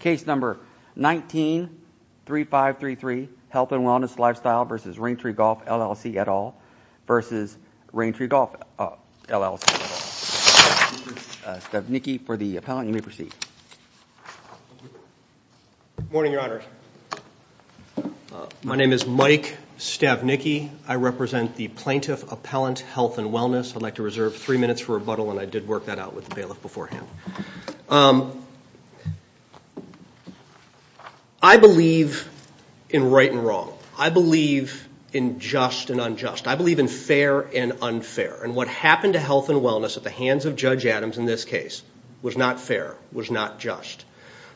Case number 193533 Health and Wellness Lifestyle v. Raintree Golf, LLC, et al. v. Raintree Golf, LLC, et al. Stavnicki for the appellant. You may proceed. Morning, Your Honor. My name is Mike Stavnicki. I represent the Plaintiff Appellant Health and Wellness. I'd like to reserve three minutes for rebuttal, and I did work that out with the bailiff beforehand. I believe in right and wrong. I believe in just and unjust. I believe in fair and unfair. And what happened to health and wellness at the hands of Judge Adams in this case was not fair, was not just.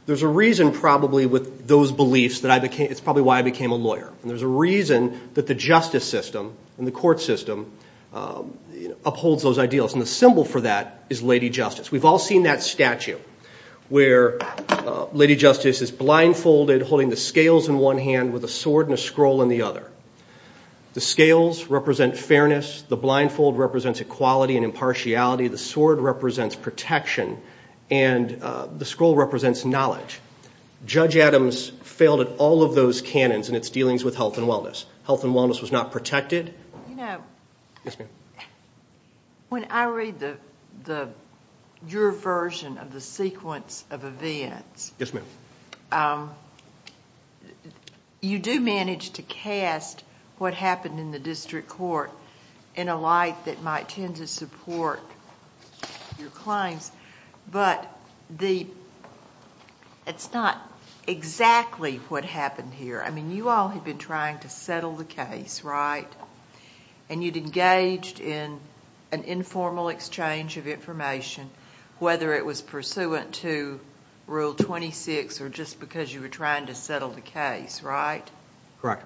There's a reason probably with those beliefs that I became, it's probably why I became a lawyer. And there's a reason that the justice system and the court system upholds those ideals. And the symbol for that is Lady Justice. We've all seen that statue where Lady Justice is blindfolded, holding the scales in one hand with a sword and a scroll in the other. The scales represent fairness. The blindfold represents equality and impartiality. The sword represents protection. And the scroll represents knowledge. Judge Adams failed at all of those canons in its dealings with health and wellness. Health and wellness was not protected. You know, when I read your version of the sequence of events, you do manage to cast what happened in the district court in a light that might tend to support your claims. But it's not exactly what happened here. I mean, you all had been trying to settle the case, right? And you'd engaged in an informal exchange of information, whether it was pursuant to Rule 26 or just because you were trying to settle the case, right? Correct.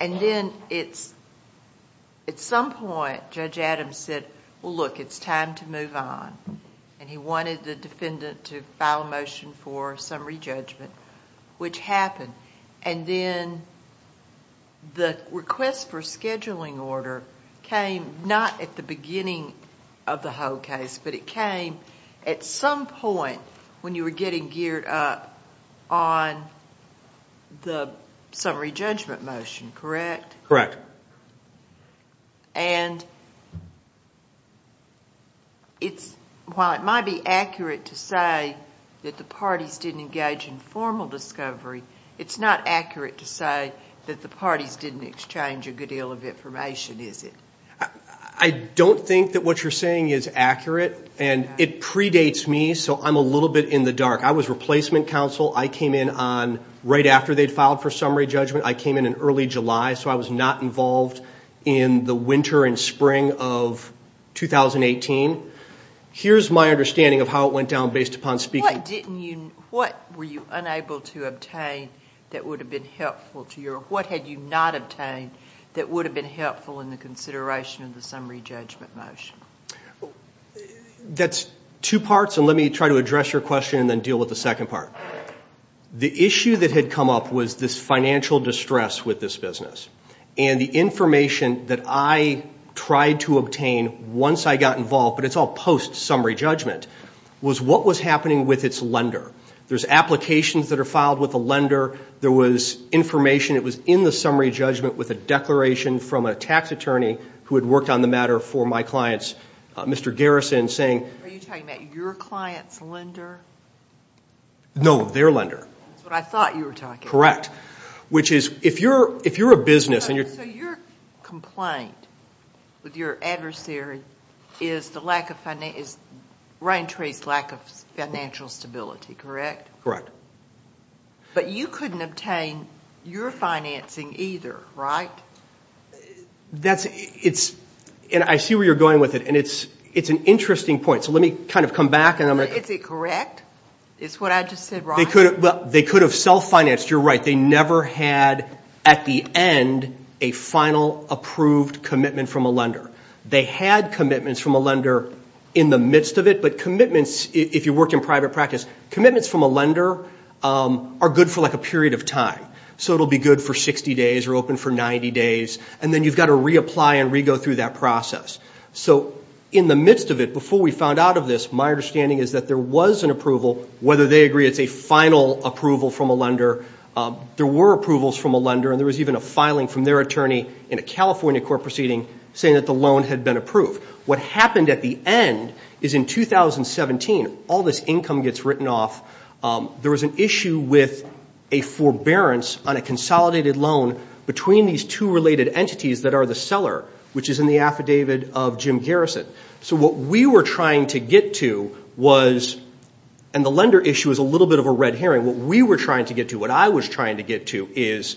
And then, at some point, Judge Adams said, well, look, it's time to move on. And he wanted the defendant to file a motion for summary judgment, which happened. And then the request for a scheduling order came not at the beginning of the whole case, but it came at some point when you were getting geared up on the summary judgment motion, correct? Correct. And while it might be accurate to say that the parties didn't engage in formal discovery, it's not accurate to say that the parties didn't exchange a good deal of information, is it? I don't think that what you're saying is accurate. And it predates me, so I'm a little bit in the dark. I was replacement counsel. I came in on right after they'd filed for summary judgment. I came in in early July, so I was not involved in the winter and spring of 2018. Here's my understanding of how it went down based upon speaking. What were you unable to obtain that would have been helpful to your – what had you not obtained that would have been helpful in the consideration of the summary judgment motion? That's two parts, and let me try to address your question and then deal with the second part. The issue that had come up was this financial distress with this business. And the information that I tried to obtain once I got involved, but it's all post-summary judgment, was what was happening with its lender. There's applications that are filed with the lender. There was information that was in the summary judgment with a declaration from a tax attorney who had worked on the matter for my clients, Mr. Garrison, saying – Are you talking about your client's lender? No, their lender. That's what I thought you were talking about. Correct. Which is, if you're a business and you're – So your complaint with your adversary is the lack of – is Rain Tree's lack of financial stability, correct? Correct. But you couldn't obtain your financing either, right? That's – it's – and I see where you're going with it, and it's an interesting point. So let me kind of come back and I'm going to – Is it correct? Is what I just said wrong? Well, they could have self-financed. You're right. They never had, at the end, a final approved commitment from a lender. They had commitments from a lender in the midst of it, but commitments, if you work in private practice, commitments from a lender are good for like a period of time. So it will be good for 60 days or open for 90 days, and then you've got to reapply and re-go through that process. So in the midst of it, before we found out of this, my understanding is that there was an approval, whether they agree it's a final approval from a lender, there were approvals from a lender, and there was even a filing from their attorney in a California court proceeding saying that the loan had been approved. What happened at the end is in 2017, all this income gets written off. There was an issue with a forbearance on a consolidated loan between these two related entities that are the seller, which is in the affidavit of Jim Garrison. So what we were trying to get to was, and the lender issue is a little bit of a red herring. What we were trying to get to, what I was trying to get to, is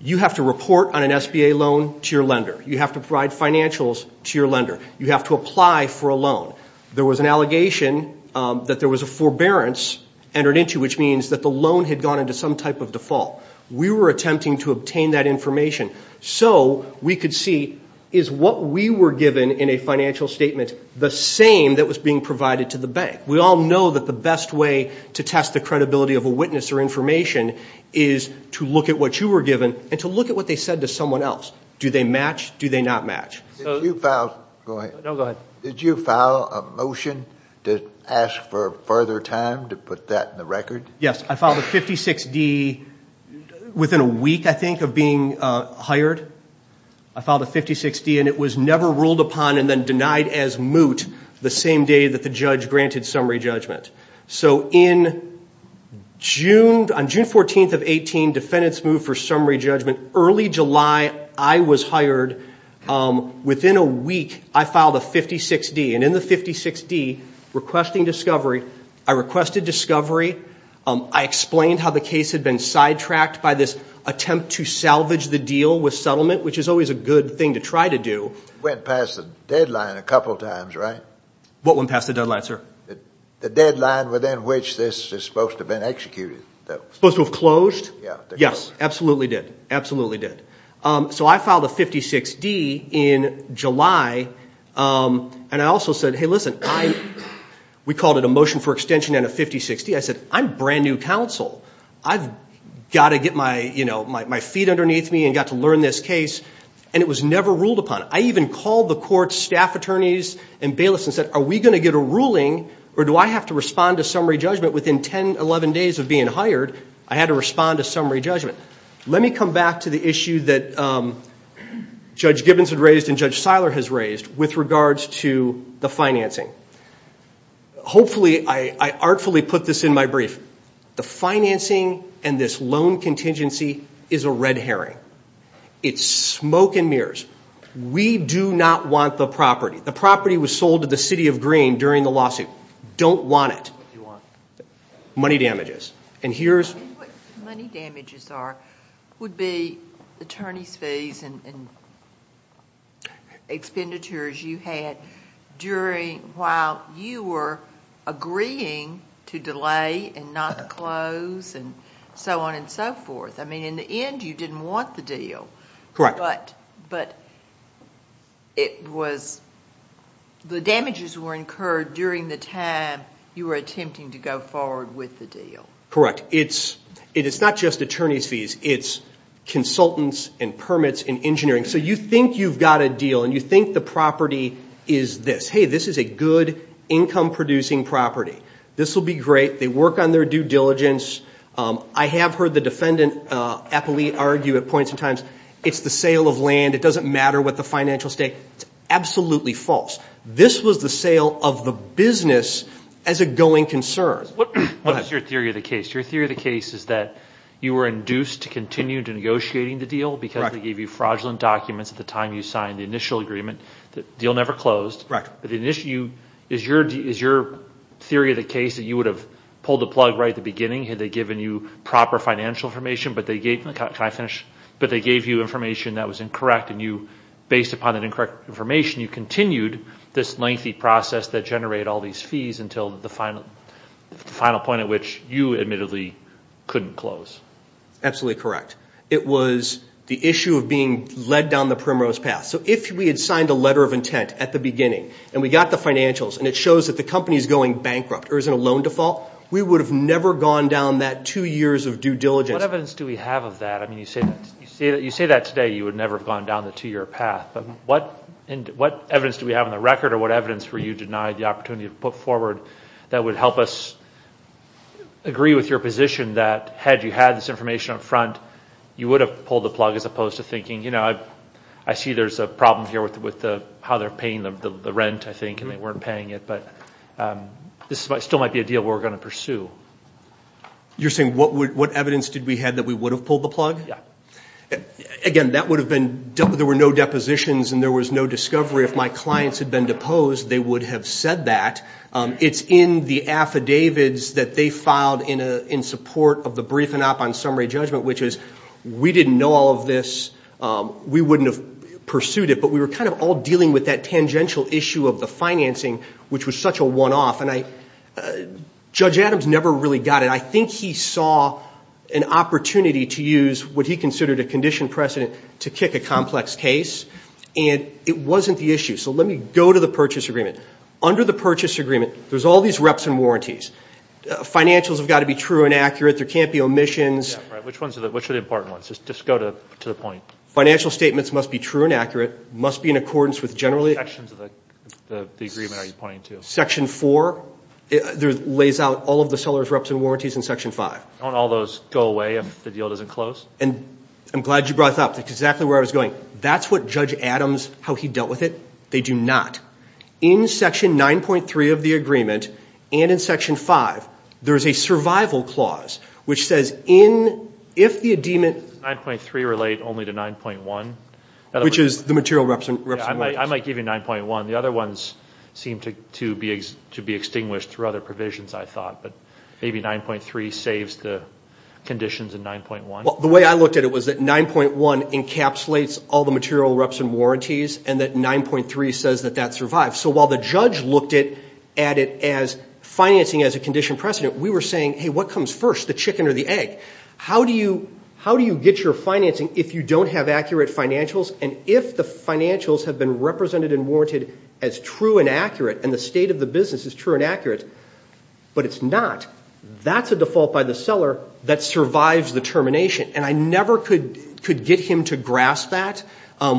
you have to report on an SBA loan to your lender. You have to provide financials to your lender. You have to apply for a loan. There was an allegation that there was a forbearance entered into, which means that the loan had gone into some type of default. We were attempting to obtain that information so we could see, is what we were given in a financial statement the same that was being provided to the bank? We all know that the best way to test the credibility of a witness or information is to look at what you were given and to look at what they said to someone else. Do they match? Do they not match? Did you file a motion to ask for further time to put that in the record? Yes, I filed a 56D within a week, I think, of being hired. I filed a 56D, and it was never ruled upon and then denied as moot the same day that the judge granted summary judgment. So on June 14th of 18, defendants moved for summary judgment. Early July, I was hired. Within a week, I filed a 56D, and in the 56D, requesting discovery, I requested discovery. I explained how the case had been sidetracked by this attempt to salvage the deal with settlement, which is always a good thing to try to do. Went past the deadline a couple times, right? What went past the deadline, sir? The deadline within which this is supposed to have been executed. Supposed to have closed? Yes. Yes, absolutely did. Absolutely did. So I filed a 56D in July, and I also said, hey, listen, we called it a motion for extension and a 56D. I said, I'm brand-new counsel. I've got to get my feet underneath me and got to learn this case, and it was never ruled upon. I even called the court staff attorneys and bailiffs and said, are we going to get a ruling, or do I have to respond to summary judgment within 10, 11 days of being hired? I had to respond to summary judgment. Let me come back to the issue that Judge Gibbons had raised and Judge Seiler has raised with regards to the financing. Hopefully I artfully put this in my brief. The financing and this loan contingency is a red herring. It's smoke and mirrors. We do not want the property. The property was sold to the city of Greene during the lawsuit. Don't want it. What do you want? Money damages. What money damages are would be attorney's fees and expenditures you had while you were agreeing to delay and not close and so on and so forth. In the end, you didn't want the deal, Correct. But the damages were incurred during the time you were attempting to go forward with the deal. Correct. It is not just attorney's fees. It's consultants and permits and engineering. So you think you've got a deal, and you think the property is this. Hey, this is a good income-producing property. This will be great. They work on their due diligence. I have heard the defendant argue at points and times, it's the sale of land. It doesn't matter what the financial state. It's absolutely false. This was the sale of the business as a going concern. What is your theory of the case? Your theory of the case is that you were induced to continue negotiating the deal because they gave you fraudulent documents at the time you signed the initial agreement. The deal never closed. Had they given you proper financial information, but they gave you information that was incorrect, and based upon that incorrect information, you continued this lengthy process that generated all these fees until the final point at which you admittedly couldn't close. Absolutely correct. It was the issue of being led down the primrose path. So if we had signed a letter of intent at the beginning, and we got the financials, and it shows that the company is going bankrupt or is in a loan default, we would have never gone down that two years of due diligence. What evidence do we have of that? You say that today you would never have gone down the two-year path, but what evidence do we have on the record, or what evidence were you denied the opportunity to put forward that would help us agree with your position that had you had this information up front, you would have pulled the plug as opposed to thinking, you know, I see there's a problem here with how they're paying the rent, I think, and they weren't paying it, but this still might be a deal we're going to pursue. You're saying what evidence did we have that we would have pulled the plug? Yeah. Again, there were no depositions and there was no discovery. If my clients had been deposed, they would have said that. It's in the affidavits that they filed in support of the briefing up on summary judgment, which is we didn't know all of this, we wouldn't have pursued it, but we were kind of all dealing with that tangential issue of the financing, which was such a one-off, and Judge Adams never really got it. I think he saw an opportunity to use what he considered a condition precedent to kick a complex case, and it wasn't the issue. So let me go to the purchase agreement. Under the purchase agreement, there's all these reps and warranties. Financials have got to be true and accurate. There can't be omissions. Yeah, right. Which are the important ones? Just go to the point. Financial statements must be true and accurate, must be in accordance with generally... Which sections of the agreement are you pointing to? Section 4 lays out all of the seller's reps and warranties in Section 5. Don't all those go away if the deal doesn't close? And I'm glad you brought that up. That's exactly where I was going. That's what Judge Adams, how he dealt with it. They do not. In Section 9.3 of the agreement and in Section 5, there is a survival clause, which says if the ademant... Does 9.3 relate only to 9.1? Which is the material reps and warranties. I might give you 9.1. The other ones seem to be extinguished through other provisions, I thought. But maybe 9.3 saves the conditions in 9.1. Well, the way I looked at it was that 9.1 encapsulates all the material reps and warranties, and that 9.3 says that that survives. So while the judge looked at it as financing as a condition precedent, we were saying, hey, what comes first, the chicken or the egg? How do you get your financing if you don't have accurate financials and if the financials have been represented and warranted as true and accurate and the state of the business is true and accurate, but it's not? That's a default by the seller that survives the termination. And I never could get him to grasp that.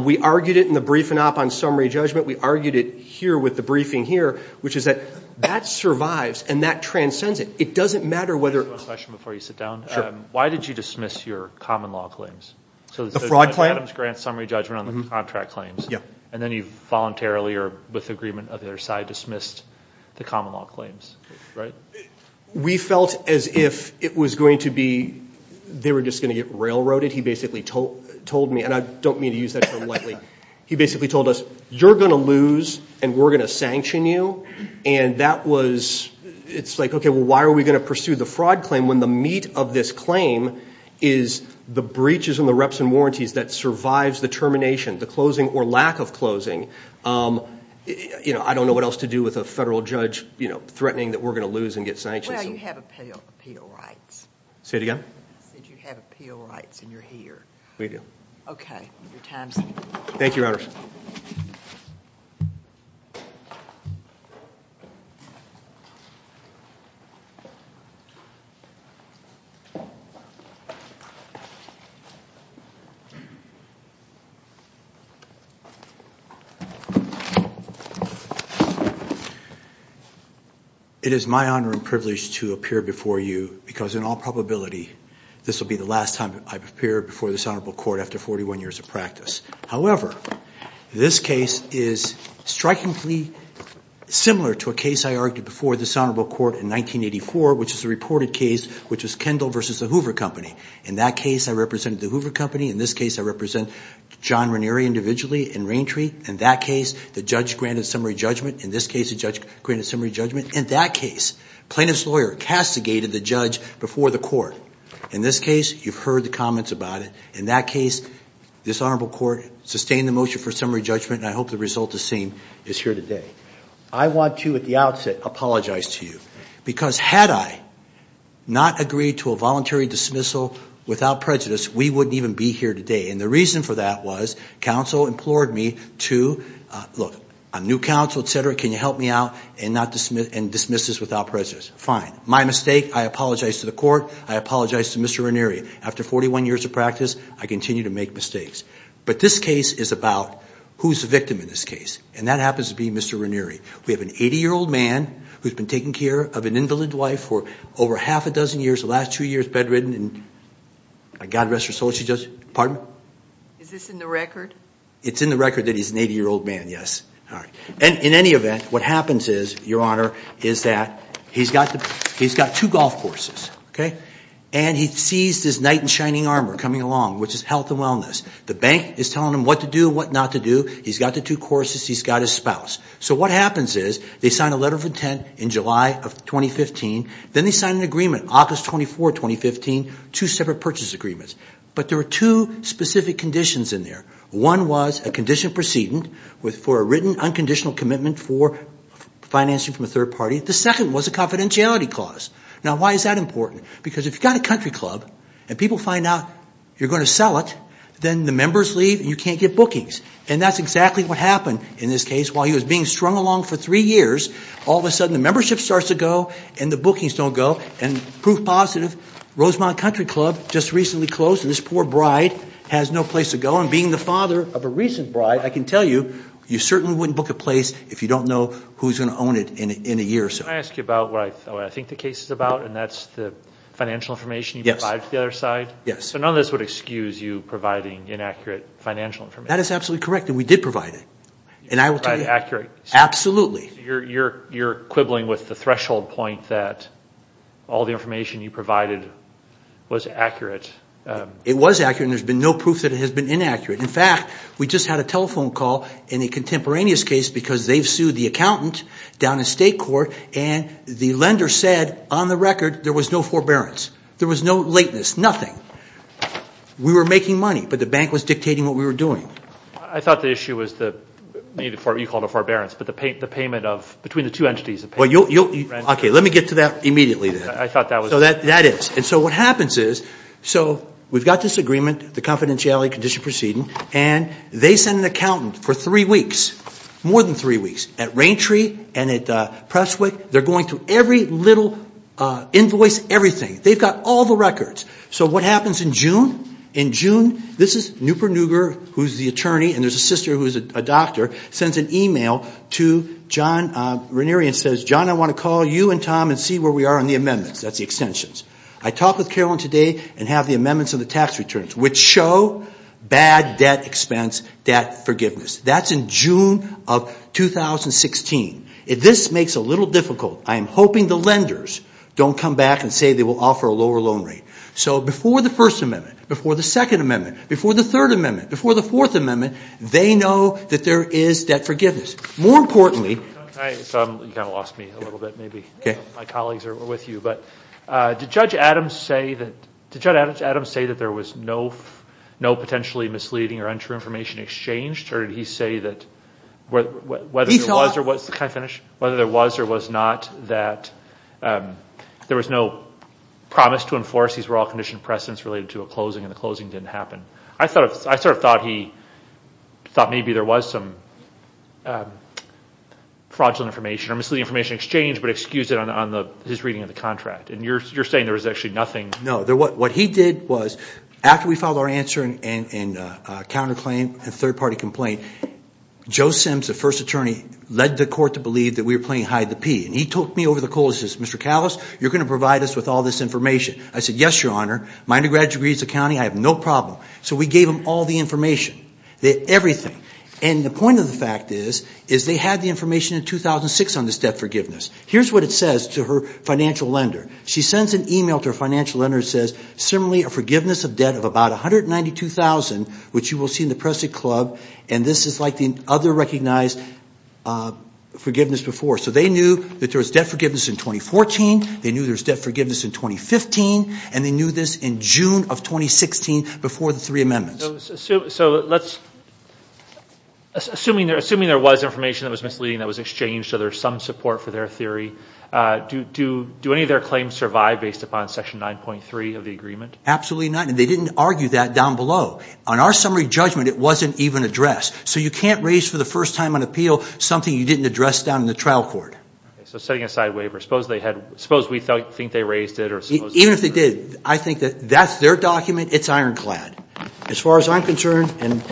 We argued it in the briefing op on summary judgment. We argued it here with the briefing here, which is that that survives and that transcends it. It doesn't matter whether... Can I ask you one question before you sit down? Sure. Why did you dismiss your common law claims? The fraud claim? Adam's grant summary judgment on the contract claims. Yeah. And then you voluntarily or with agreement of the other side dismissed the common law claims, right? We felt as if it was going to be they were just going to get railroaded. He basically told me, and I don't mean to use that term lightly, he basically told us you're going to lose and we're going to sanction you, and that was... it's like, okay, well, why are we going to pursue the fraud claim when the meat of this claim is the breaches and the reps and warranties that survives the termination, the closing or lack of closing? I don't know what else to do with a federal judge threatening that we're going to lose and get sanctioned. Well, you have appeal rights. Say it again? You have appeal rights and you're here. Okay. Your time's up. Thank you, Your Honors. Thank you. It is my honor and privilege to appear before you because in all probability this will be the last time I appear before this honorable court after 41 years of practice. However, this case is strikingly similar to a case I argued before this honorable court in 1984, which is a reported case which was Kendall v. The Hoover Company. In that case, I represented The Hoover Company. In this case, I represent John Ranieri individually in Raintree. In that case, the judge granted summary judgment. In this case, the judge granted summary judgment. In that case, plaintiff's lawyer castigated the judge before the court. In this case, you've heard the comments about it. In that case, this honorable court sustained the motion for summary judgment, and I hope the result the same is here today. I want to at the outset apologize to you because had I not agreed to a voluntary dismissal without prejudice, we wouldn't even be here today. And the reason for that was counsel implored me to, look, I'm new counsel, et cetera. Can you help me out and dismiss this without prejudice? Fine. My mistake. I apologize to the court. I apologize to Mr. Ranieri. After 41 years of practice, I continue to make mistakes. But this case is about who's the victim in this case, and that happens to be Mr. Ranieri. We have an 80-year-old man who's been taking care of an invalid wife for over half a dozen years, the last two years bedridden, and God rest her soul, she just – pardon? Is this in the record? It's in the record that he's an 80-year-old man, yes. In any event, what happens is, Your Honor, is that he's got two golf courses, okay? And he sees this knight in shining armor coming along, which is health and wellness. The bank is telling him what to do and what not to do. He's got the two courses. He's got his spouse. So what happens is they sign a letter of intent in July of 2015. Then they sign an agreement, August 24, 2015, two separate purchase agreements. But there are two specific conditions in there. One was a condition of precedent for a written unconditional commitment for financing from a third party. The second was a confidentiality clause. Now, why is that important? Because if you've got a country club and people find out you're going to sell it, then the members leave and you can't get bookings. And that's exactly what happened in this case. While he was being strung along for three years, all of a sudden the membership starts to go and the bookings don't go. And proof positive, Rosemount Country Club just recently closed, and this poor bride has no place to go. And being the father of a recent bride, I can tell you, you certainly wouldn't book a place if you don't know who's going to own it in a year or so. Can I ask you about what I think the case is about, and that's the financial information you provide for the other side? Yes. So none of this would excuse you providing inaccurate financial information? That is absolutely correct, and we did provide it. You provided accurate? Absolutely. So you're quibbling with the threshold point that all the information you provided was accurate? It was accurate, and there's been no proof that it has been inaccurate. In fact, we just had a telephone call in a contemporaneous case because they've sued the accountant down in state court, and the lender said on the record there was no forbearance. There was no lateness, nothing. We were making money, but the bank was dictating what we were doing. I thought the issue was the need for what you called a forbearance, but the payment of between the two entities. Okay, let me get to that immediately then. So that is. And so what happens is, so we've got this agreement, the confidentiality condition proceeding, and they send an accountant for three weeks, more than three weeks, at Raintree and at Presswick. They're going through every little invoice, everything. They've got all the records. So what happens in June? In June, this is Nupur Nugar, who's the attorney, and there's a sister who's a doctor, sends an email to John Ranieri and says, John, I want to call you and Tom and see where we are on the amendments. That's the extensions. I talked with Carolyn today and have the amendments on the tax returns, which show bad debt expense debt forgiveness. That's in June of 2016. This makes it a little difficult. I am hoping the lenders don't come back and say they will offer a lower loan rate. So before the First Amendment, before the Second Amendment, before the Third Amendment, before the Fourth Amendment, they know that there is debt forgiveness. More importantly. You kind of lost me a little bit, maybe. My colleagues are with you. Did Judge Adams say that there was no potentially misleading or untrue information exchanged? Or did he say that whether there was or was not that there was no promise to enforce these were all conditioned precedents related to a closing and the closing didn't happen? I sort of thought he thought maybe there was some fraudulent information or misleading information exchanged but excused it on his reading of the contract. And you're saying there was actually nothing. No. What he did was after we filed our answer and counterclaim, a third-party complaint, Joe Simms, the first attorney, led the court to believe that we were playing hide-the-pea. And he took me over the cold and says, Mr. Kallis, you're going to provide us with all this information. I said, yes, Your Honor. My undergraduate degree is accounting. I have no problem. So we gave them all the information, everything. And the point of the fact is they had the information in 2006 on this debt forgiveness. Here's what it says to her financial lender. She sends an e-mail to her financial lender that says, similarly a forgiveness of debt of about $192,000, which you will see in the Press Club, and this is like the other recognized forgiveness before. So they knew that there was debt forgiveness in 2014, they knew there was debt forgiveness in 2015, and they knew this in June of 2016 before the three amendments. So assuming there was information that was misleading that was exchanged, so there's some support for their theory, do any of their claims survive based upon Section 9.3 of the agreement? Absolutely not. And they didn't argue that down below. On our summary judgment, it wasn't even addressed. So you can't raise for the first time on appeal something you didn't address down in the trial court. So setting aside waivers. Suppose we think they raised it. Even if they did, I think that's their document. It's ironclad. As far as I'm concerned, and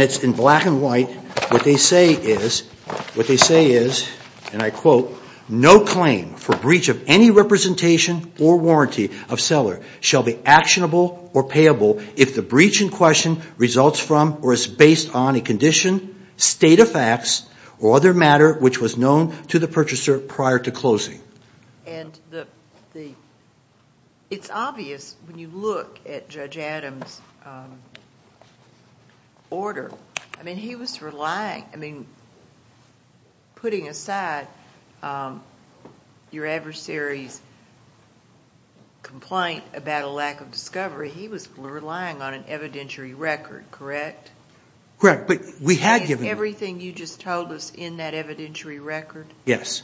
it's in black and white, what they say is, and I quote, no claim for breach of any representation or warranty of seller shall be actionable or payable if the breach in question results from or is based on a condition, state of facts, or other matter which was known to the purchaser prior to closing. And it's obvious when you look at Judge Adams' order, I mean, he was relying, I mean, putting aside your adversary's complaint about a lack of discovery, he was relying on an evidentiary record, correct? Correct. But we had given them. Is everything you just told us in that evidentiary record? Yes.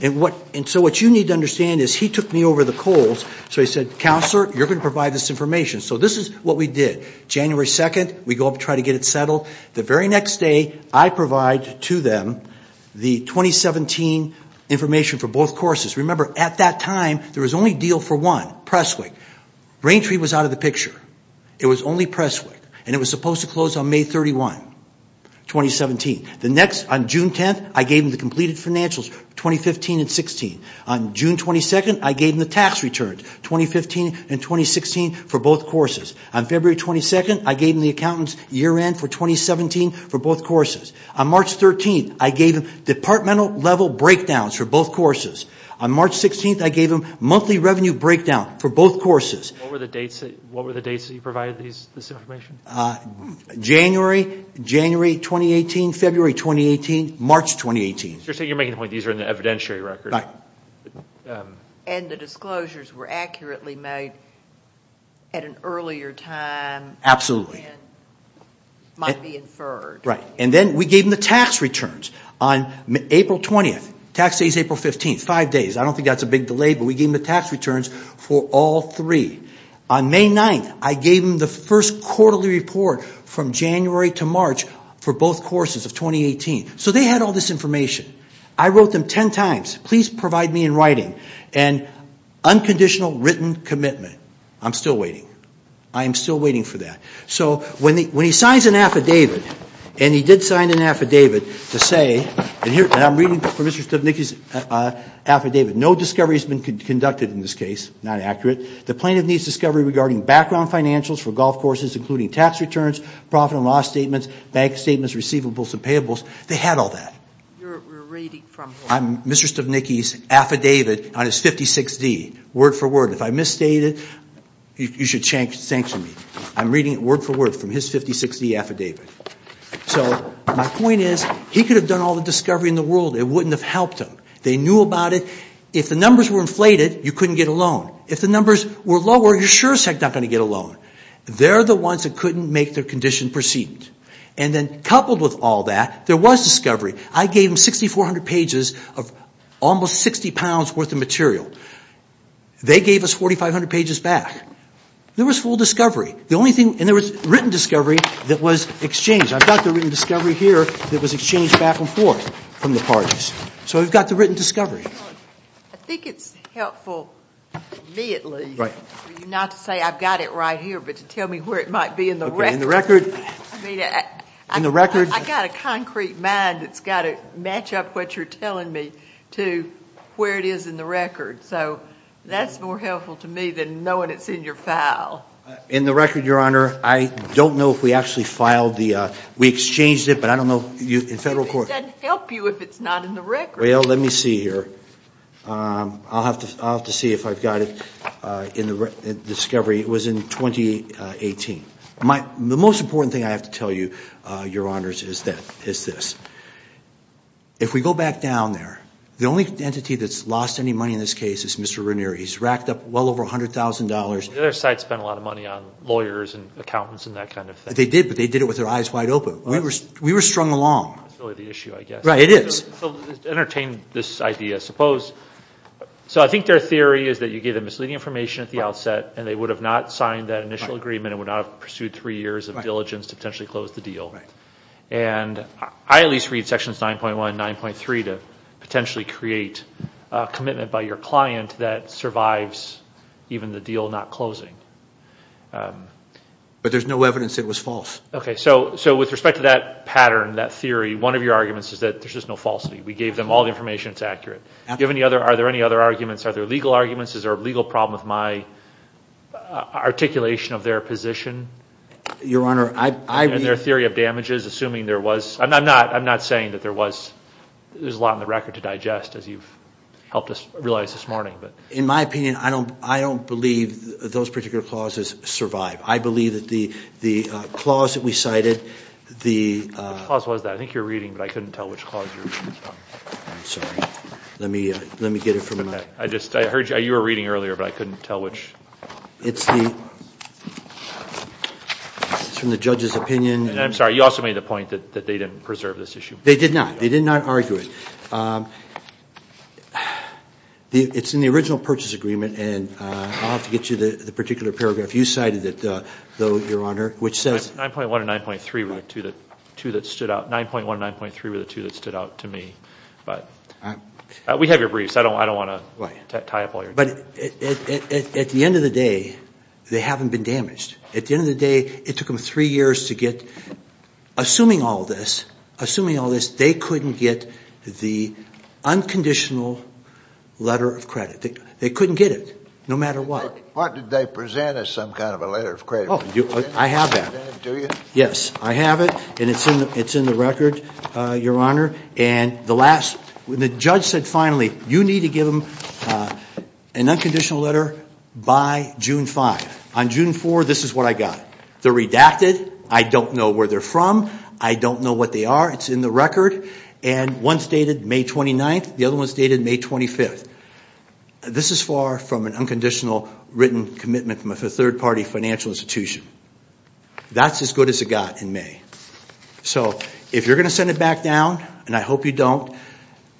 And so what you need to understand is he took me over the coals. So he said, Counselor, you're going to provide this information. So this is what we did. January 2nd, we go up and try to get it settled. The very next day, I provide to them the 2017 information for both courses. Remember, at that time, there was only deal for one, Presswick. Raintree was out of the picture. It was only Presswick. And it was supposed to close on May 31, 2017. The next, on June 10th, I gave them the completed financials, 2015 and 16. On June 22nd, I gave them the tax returns, 2015 and 2016, for both courses. On February 22nd, I gave them the accountant's year end for 2017 for both courses. On March 13th, I gave them departmental level breakdowns for both courses. On March 16th, I gave them monthly revenue breakdown for both courses. What were the dates that you provided this information? January, January 2018, February 2018, March 2018. You're saying you're making the point these are in the evidentiary record. Right. And the disclosures were accurately made at an earlier time. Absolutely. And might be inferred. Right. And then we gave them the tax returns. On April 20th, tax day is April 15th, five days. I don't think that's a big delay, but we gave them the tax returns for all three. On May 9th, I gave them the first quarterly report from January to March for both courses of 2018. So they had all this information. I wrote them ten times. Please provide me in writing. And unconditional written commitment. I'm still waiting. I am still waiting for that. So when he signs an affidavit, and he did sign an affidavit to say, and I'm reading from Mr. Stupnicki's affidavit, no discovery has been conducted in this case, not accurate. The plaintiff needs discovery regarding background financials for golf courses, including tax returns, profit and loss statements, bank statements, receivables, and payables. They had all that. You're reading from what? Mr. Stupnicki's affidavit on his 56-D, word for word. If I misstated, you should sanction me. I'm reading it word for word from his 56-D affidavit. So my point is, he could have done all the discovery in the world. It wouldn't have helped him. They knew about it. If the numbers were inflated, you couldn't get a loan. If the numbers were lower, you're sure as heck not going to get a loan. They're the ones that couldn't make their condition perceived. And then coupled with all that, there was discovery. I gave them 6,400 pages of almost 60 pounds worth of material. They gave us 4,500 pages back. There was full discovery. The only thing, and there was written discovery that was exchanged. I've got the written discovery here that was exchanged back and forth from the parties. So we've got the written discovery. I think it's helpful to me, at least, not to say I've got it right here, but to tell me where it might be in the record. In the record. I've got a concrete mind that's got to match up what you're telling me to where it is in the record. So that's more helpful to me than knowing it's in your file. In the record, Your Honor, I don't know if we actually filed the ‑‑ we exchanged it, but I don't know. In federal court. It doesn't help you if it's not in the record. Well, let me see here. I'll have to see if I've got it in the discovery. It was in 2018. The most important thing I have to tell you, Your Honors, is this. If we go back down there, the only entity that's lost any money in this case is Mr. Ranier. He's racked up well over $100,000. The other side spent a lot of money on lawyers and accountants and that kind of thing. They did, but they did it with their eyes wide open. We were strung along. That's really the issue, I guess. Right, it is. To entertain this idea, I suppose. So I think their theory is that you gave them misleading information at the outset and they would have not signed that initial agreement and would not have pursued three years of diligence to potentially close the deal. And I at least read sections 9.1 and 9.3 to potentially create a commitment by your client that survives even the deal not closing. But there's no evidence it was false. Okay, so with respect to that pattern, that theory, one of your arguments is that there's just no falsity. We gave them all the information that's accurate. Are there any other arguments? Are there legal arguments? Is there a legal problem with my articulation of their position? Your Honor, I read— And their theory of damages, assuming there was. I'm not saying that there was. There's a lot on the record to digest, as you've helped us realize this morning. In my opinion, I don't believe those particular clauses survive. I believe that the clause that we cited, the— What clause was that? I think you were reading, but I couldn't tell which clause you were reading. I'm sorry. Let me get it from another— I just—I heard you were reading earlier, but I couldn't tell which. It's the—it's from the judge's opinion. I'm sorry. You also made the point that they didn't preserve this issue. They did not. They did not argue it. It's in the original purchase agreement, and I'll have to get you the particular paragraph. You cited it, though, Your Honor, which says— 9.1 and 9.3 were the two that stood out. 9.1 and 9.3 were the two that stood out to me. But we have your briefs. I don't want to tie up all your— But at the end of the day, they haven't been damaged. At the end of the day, it took them three years to get—assuming all this, they couldn't get the unconditional letter of credit. They couldn't get it, no matter what. What did they present as some kind of a letter of credit? I have that. Do you? Yes. I have it, and it's in the record, Your Honor. And the last—the judge said, finally, you need to give them an unconditional letter by June 5th. On June 4th, this is what I got. They're redacted. I don't know where they're from. I don't know what they are. It's in the record. And one's dated May 29th. The other one's dated May 25th. This is far from an unconditional written commitment from a third-party financial institution. That's as good as it got in May. So if you're going to send it back down, and I hope you don't,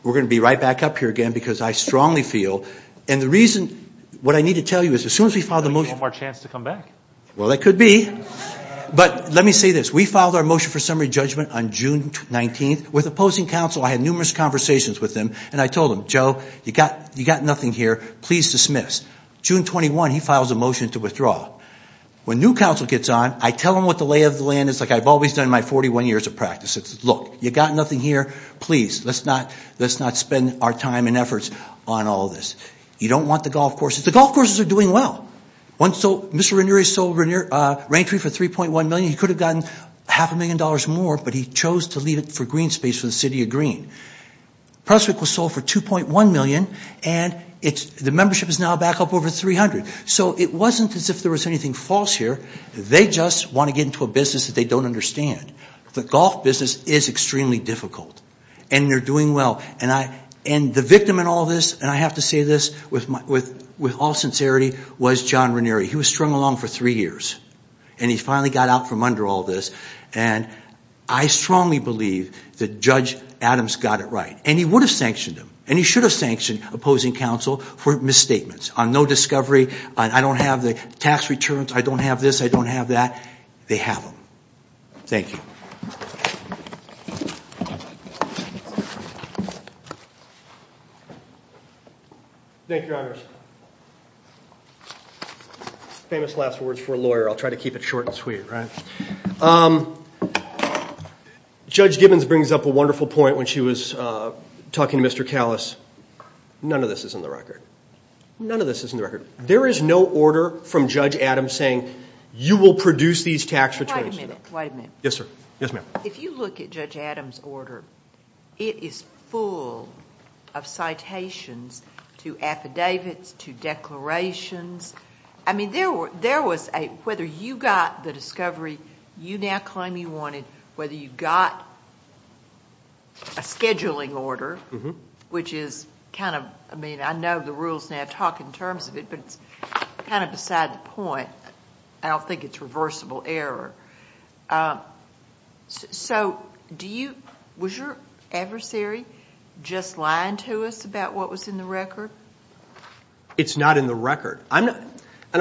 we're going to be right back up here again because I strongly feel— and the reason—what I need to tell you is, as soon as we filed the motion— We have one more chance to come back. Well, that could be. But let me say this. We filed our motion for summary judgment on June 19th with opposing counsel. I had numerous conversations with them, and I told them, Joe, you've got nothing here. Please dismiss. June 21, he files a motion to withdraw. When new counsel gets on, I tell them what the lay of the land is, like I've always done in my 41 years of practice. It's, look, you've got nothing here. Please, let's not spend our time and efforts on all this. You don't want the golf courses. The golf courses are doing well. Mr. Ranieri sold Rankery for $3.1 million. He could have gotten half a million dollars more, but he chose to leave it for green space for the City of Green. Presswick was sold for $2.1 million, and the membership is now back up over $300. So it wasn't as if there was anything false here. They just want to get into a business that they don't understand. The golf business is extremely difficult, and they're doing well. And the victim in all this, and I have to say this with all sincerity, was John Ranieri. He was strung along for three years, and he finally got out from under all this. And I strongly believe that Judge Adams got it right, and he would have sanctioned him, and he should have sanctioned opposing counsel for misstatements on no discovery, on I don't have the tax returns, I don't have this, I don't have that. They have them. Thank you. Thank you, Your Honor. Thank you, Judge. Famous last words for a lawyer. I'll try to keep it short and sweet, right? Judge Gibbons brings up a wonderful point when she was talking to Mr. Callis. None of this is in the record. None of this is in the record. There is no order from Judge Adams saying you will produce these tax returns. Wait a minute. Yes, sir. Yes, ma'am. If you look at Judge Adams' order, it is full of citations to affidavits, to declarations. I mean, there was a whether you got the discovery you now claim you wanted, whether you got a scheduling order, which is kind of, I mean, I know the rules now talk in terms of it, but it's kind of beside the point. I don't think it's reversible error. So was your adversary just lying to us about what was in the record? It's not in the record. I don't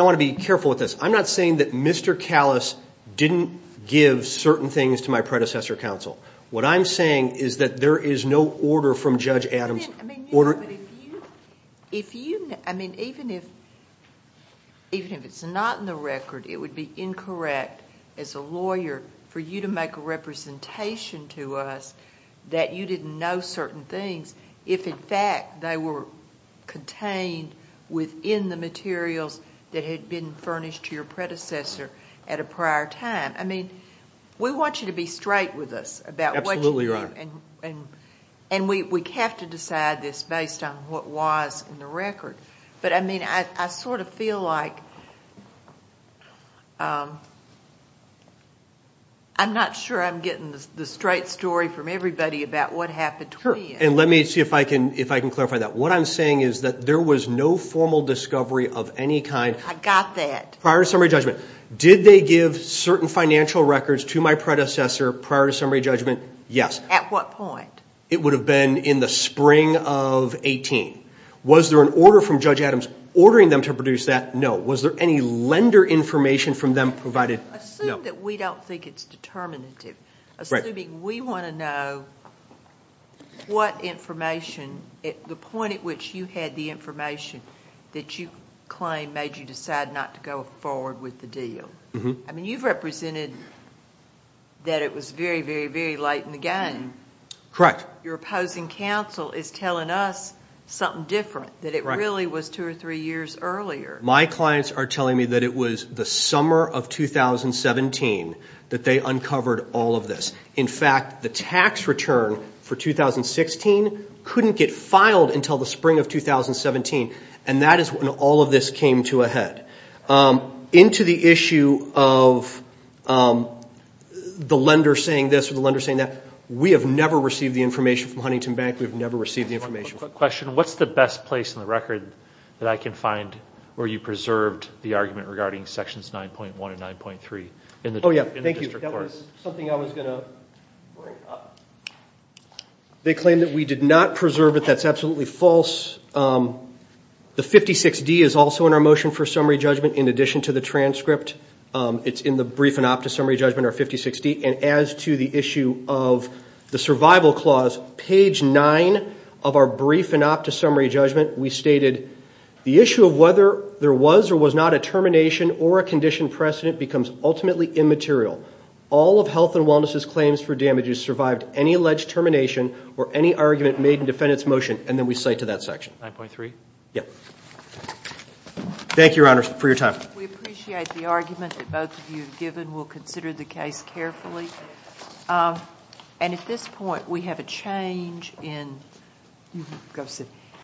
want to be careful with this. I'm not saying that Mr. Callis didn't give certain things to my predecessor counsel. What I'm saying is that there is no order from Judge Adams. I mean, even if it's not in the record, it would be incorrect as a lawyer for you to make a representation to us that you didn't know certain things if, in fact, they were contained within the materials that had been furnished to your predecessor at a prior time. I mean, we want you to be straight with us about what you do. Absolutely, Your Honor. And we have to decide this based on what was in the record. But, I mean, I sort of feel like I'm not sure I'm getting the straight story from everybody about what happened to me. And let me see if I can clarify that. What I'm saying is that there was no formal discovery of any kind. I got that. Prior to summary judgment. Did they give certain financial records to my predecessor prior to summary judgment? Yes. At what point? It would have been in the spring of 18. Was there an order from Judge Adams ordering them to produce that? No. Was there any lender information from them provided? No. Assume that we don't think it's determinative. Assuming we want to know what information, the point at which you had the information that you claim made you decide not to go forward with the deal. I mean, you've represented that it was very, very, very light in the game. Correct. Your opposing counsel is telling us something different, that it really was two or three years earlier. My clients are telling me that it was the summer of 2017 that they uncovered all of this. In fact, the tax return for 2016 couldn't get filed until the spring of 2017, and that is when all of this came to a head. Into the issue of the lender saying this or the lender saying that, we have never received the information from Huntington Bank. We have never received the information. Quick question. What's the best place on the record that I can find where you preserved the argument regarding sections 9.1 and 9.3 in the district court? Oh, yeah. Thank you. That was something I was going to bring up. They claim that we did not preserve it. That's absolutely false. The 56D is also in our motion for summary judgment in addition to the transcript. It's in the brief and optus summary judgment, our 56D. And as to the issue of the survival clause, page 9 of our brief and optus summary judgment, we stated the issue of whether there was or was not a termination or a condition precedent becomes ultimately immaterial. All of health and wellness' claims for damages survived any alleged termination or any argument made in defendant's motion, and then we cite to that section. 9.3? Thank you, Your Honor, for your time. We appreciate the argument that both of you have given. We'll consider the case carefully. And at this point, we have a change in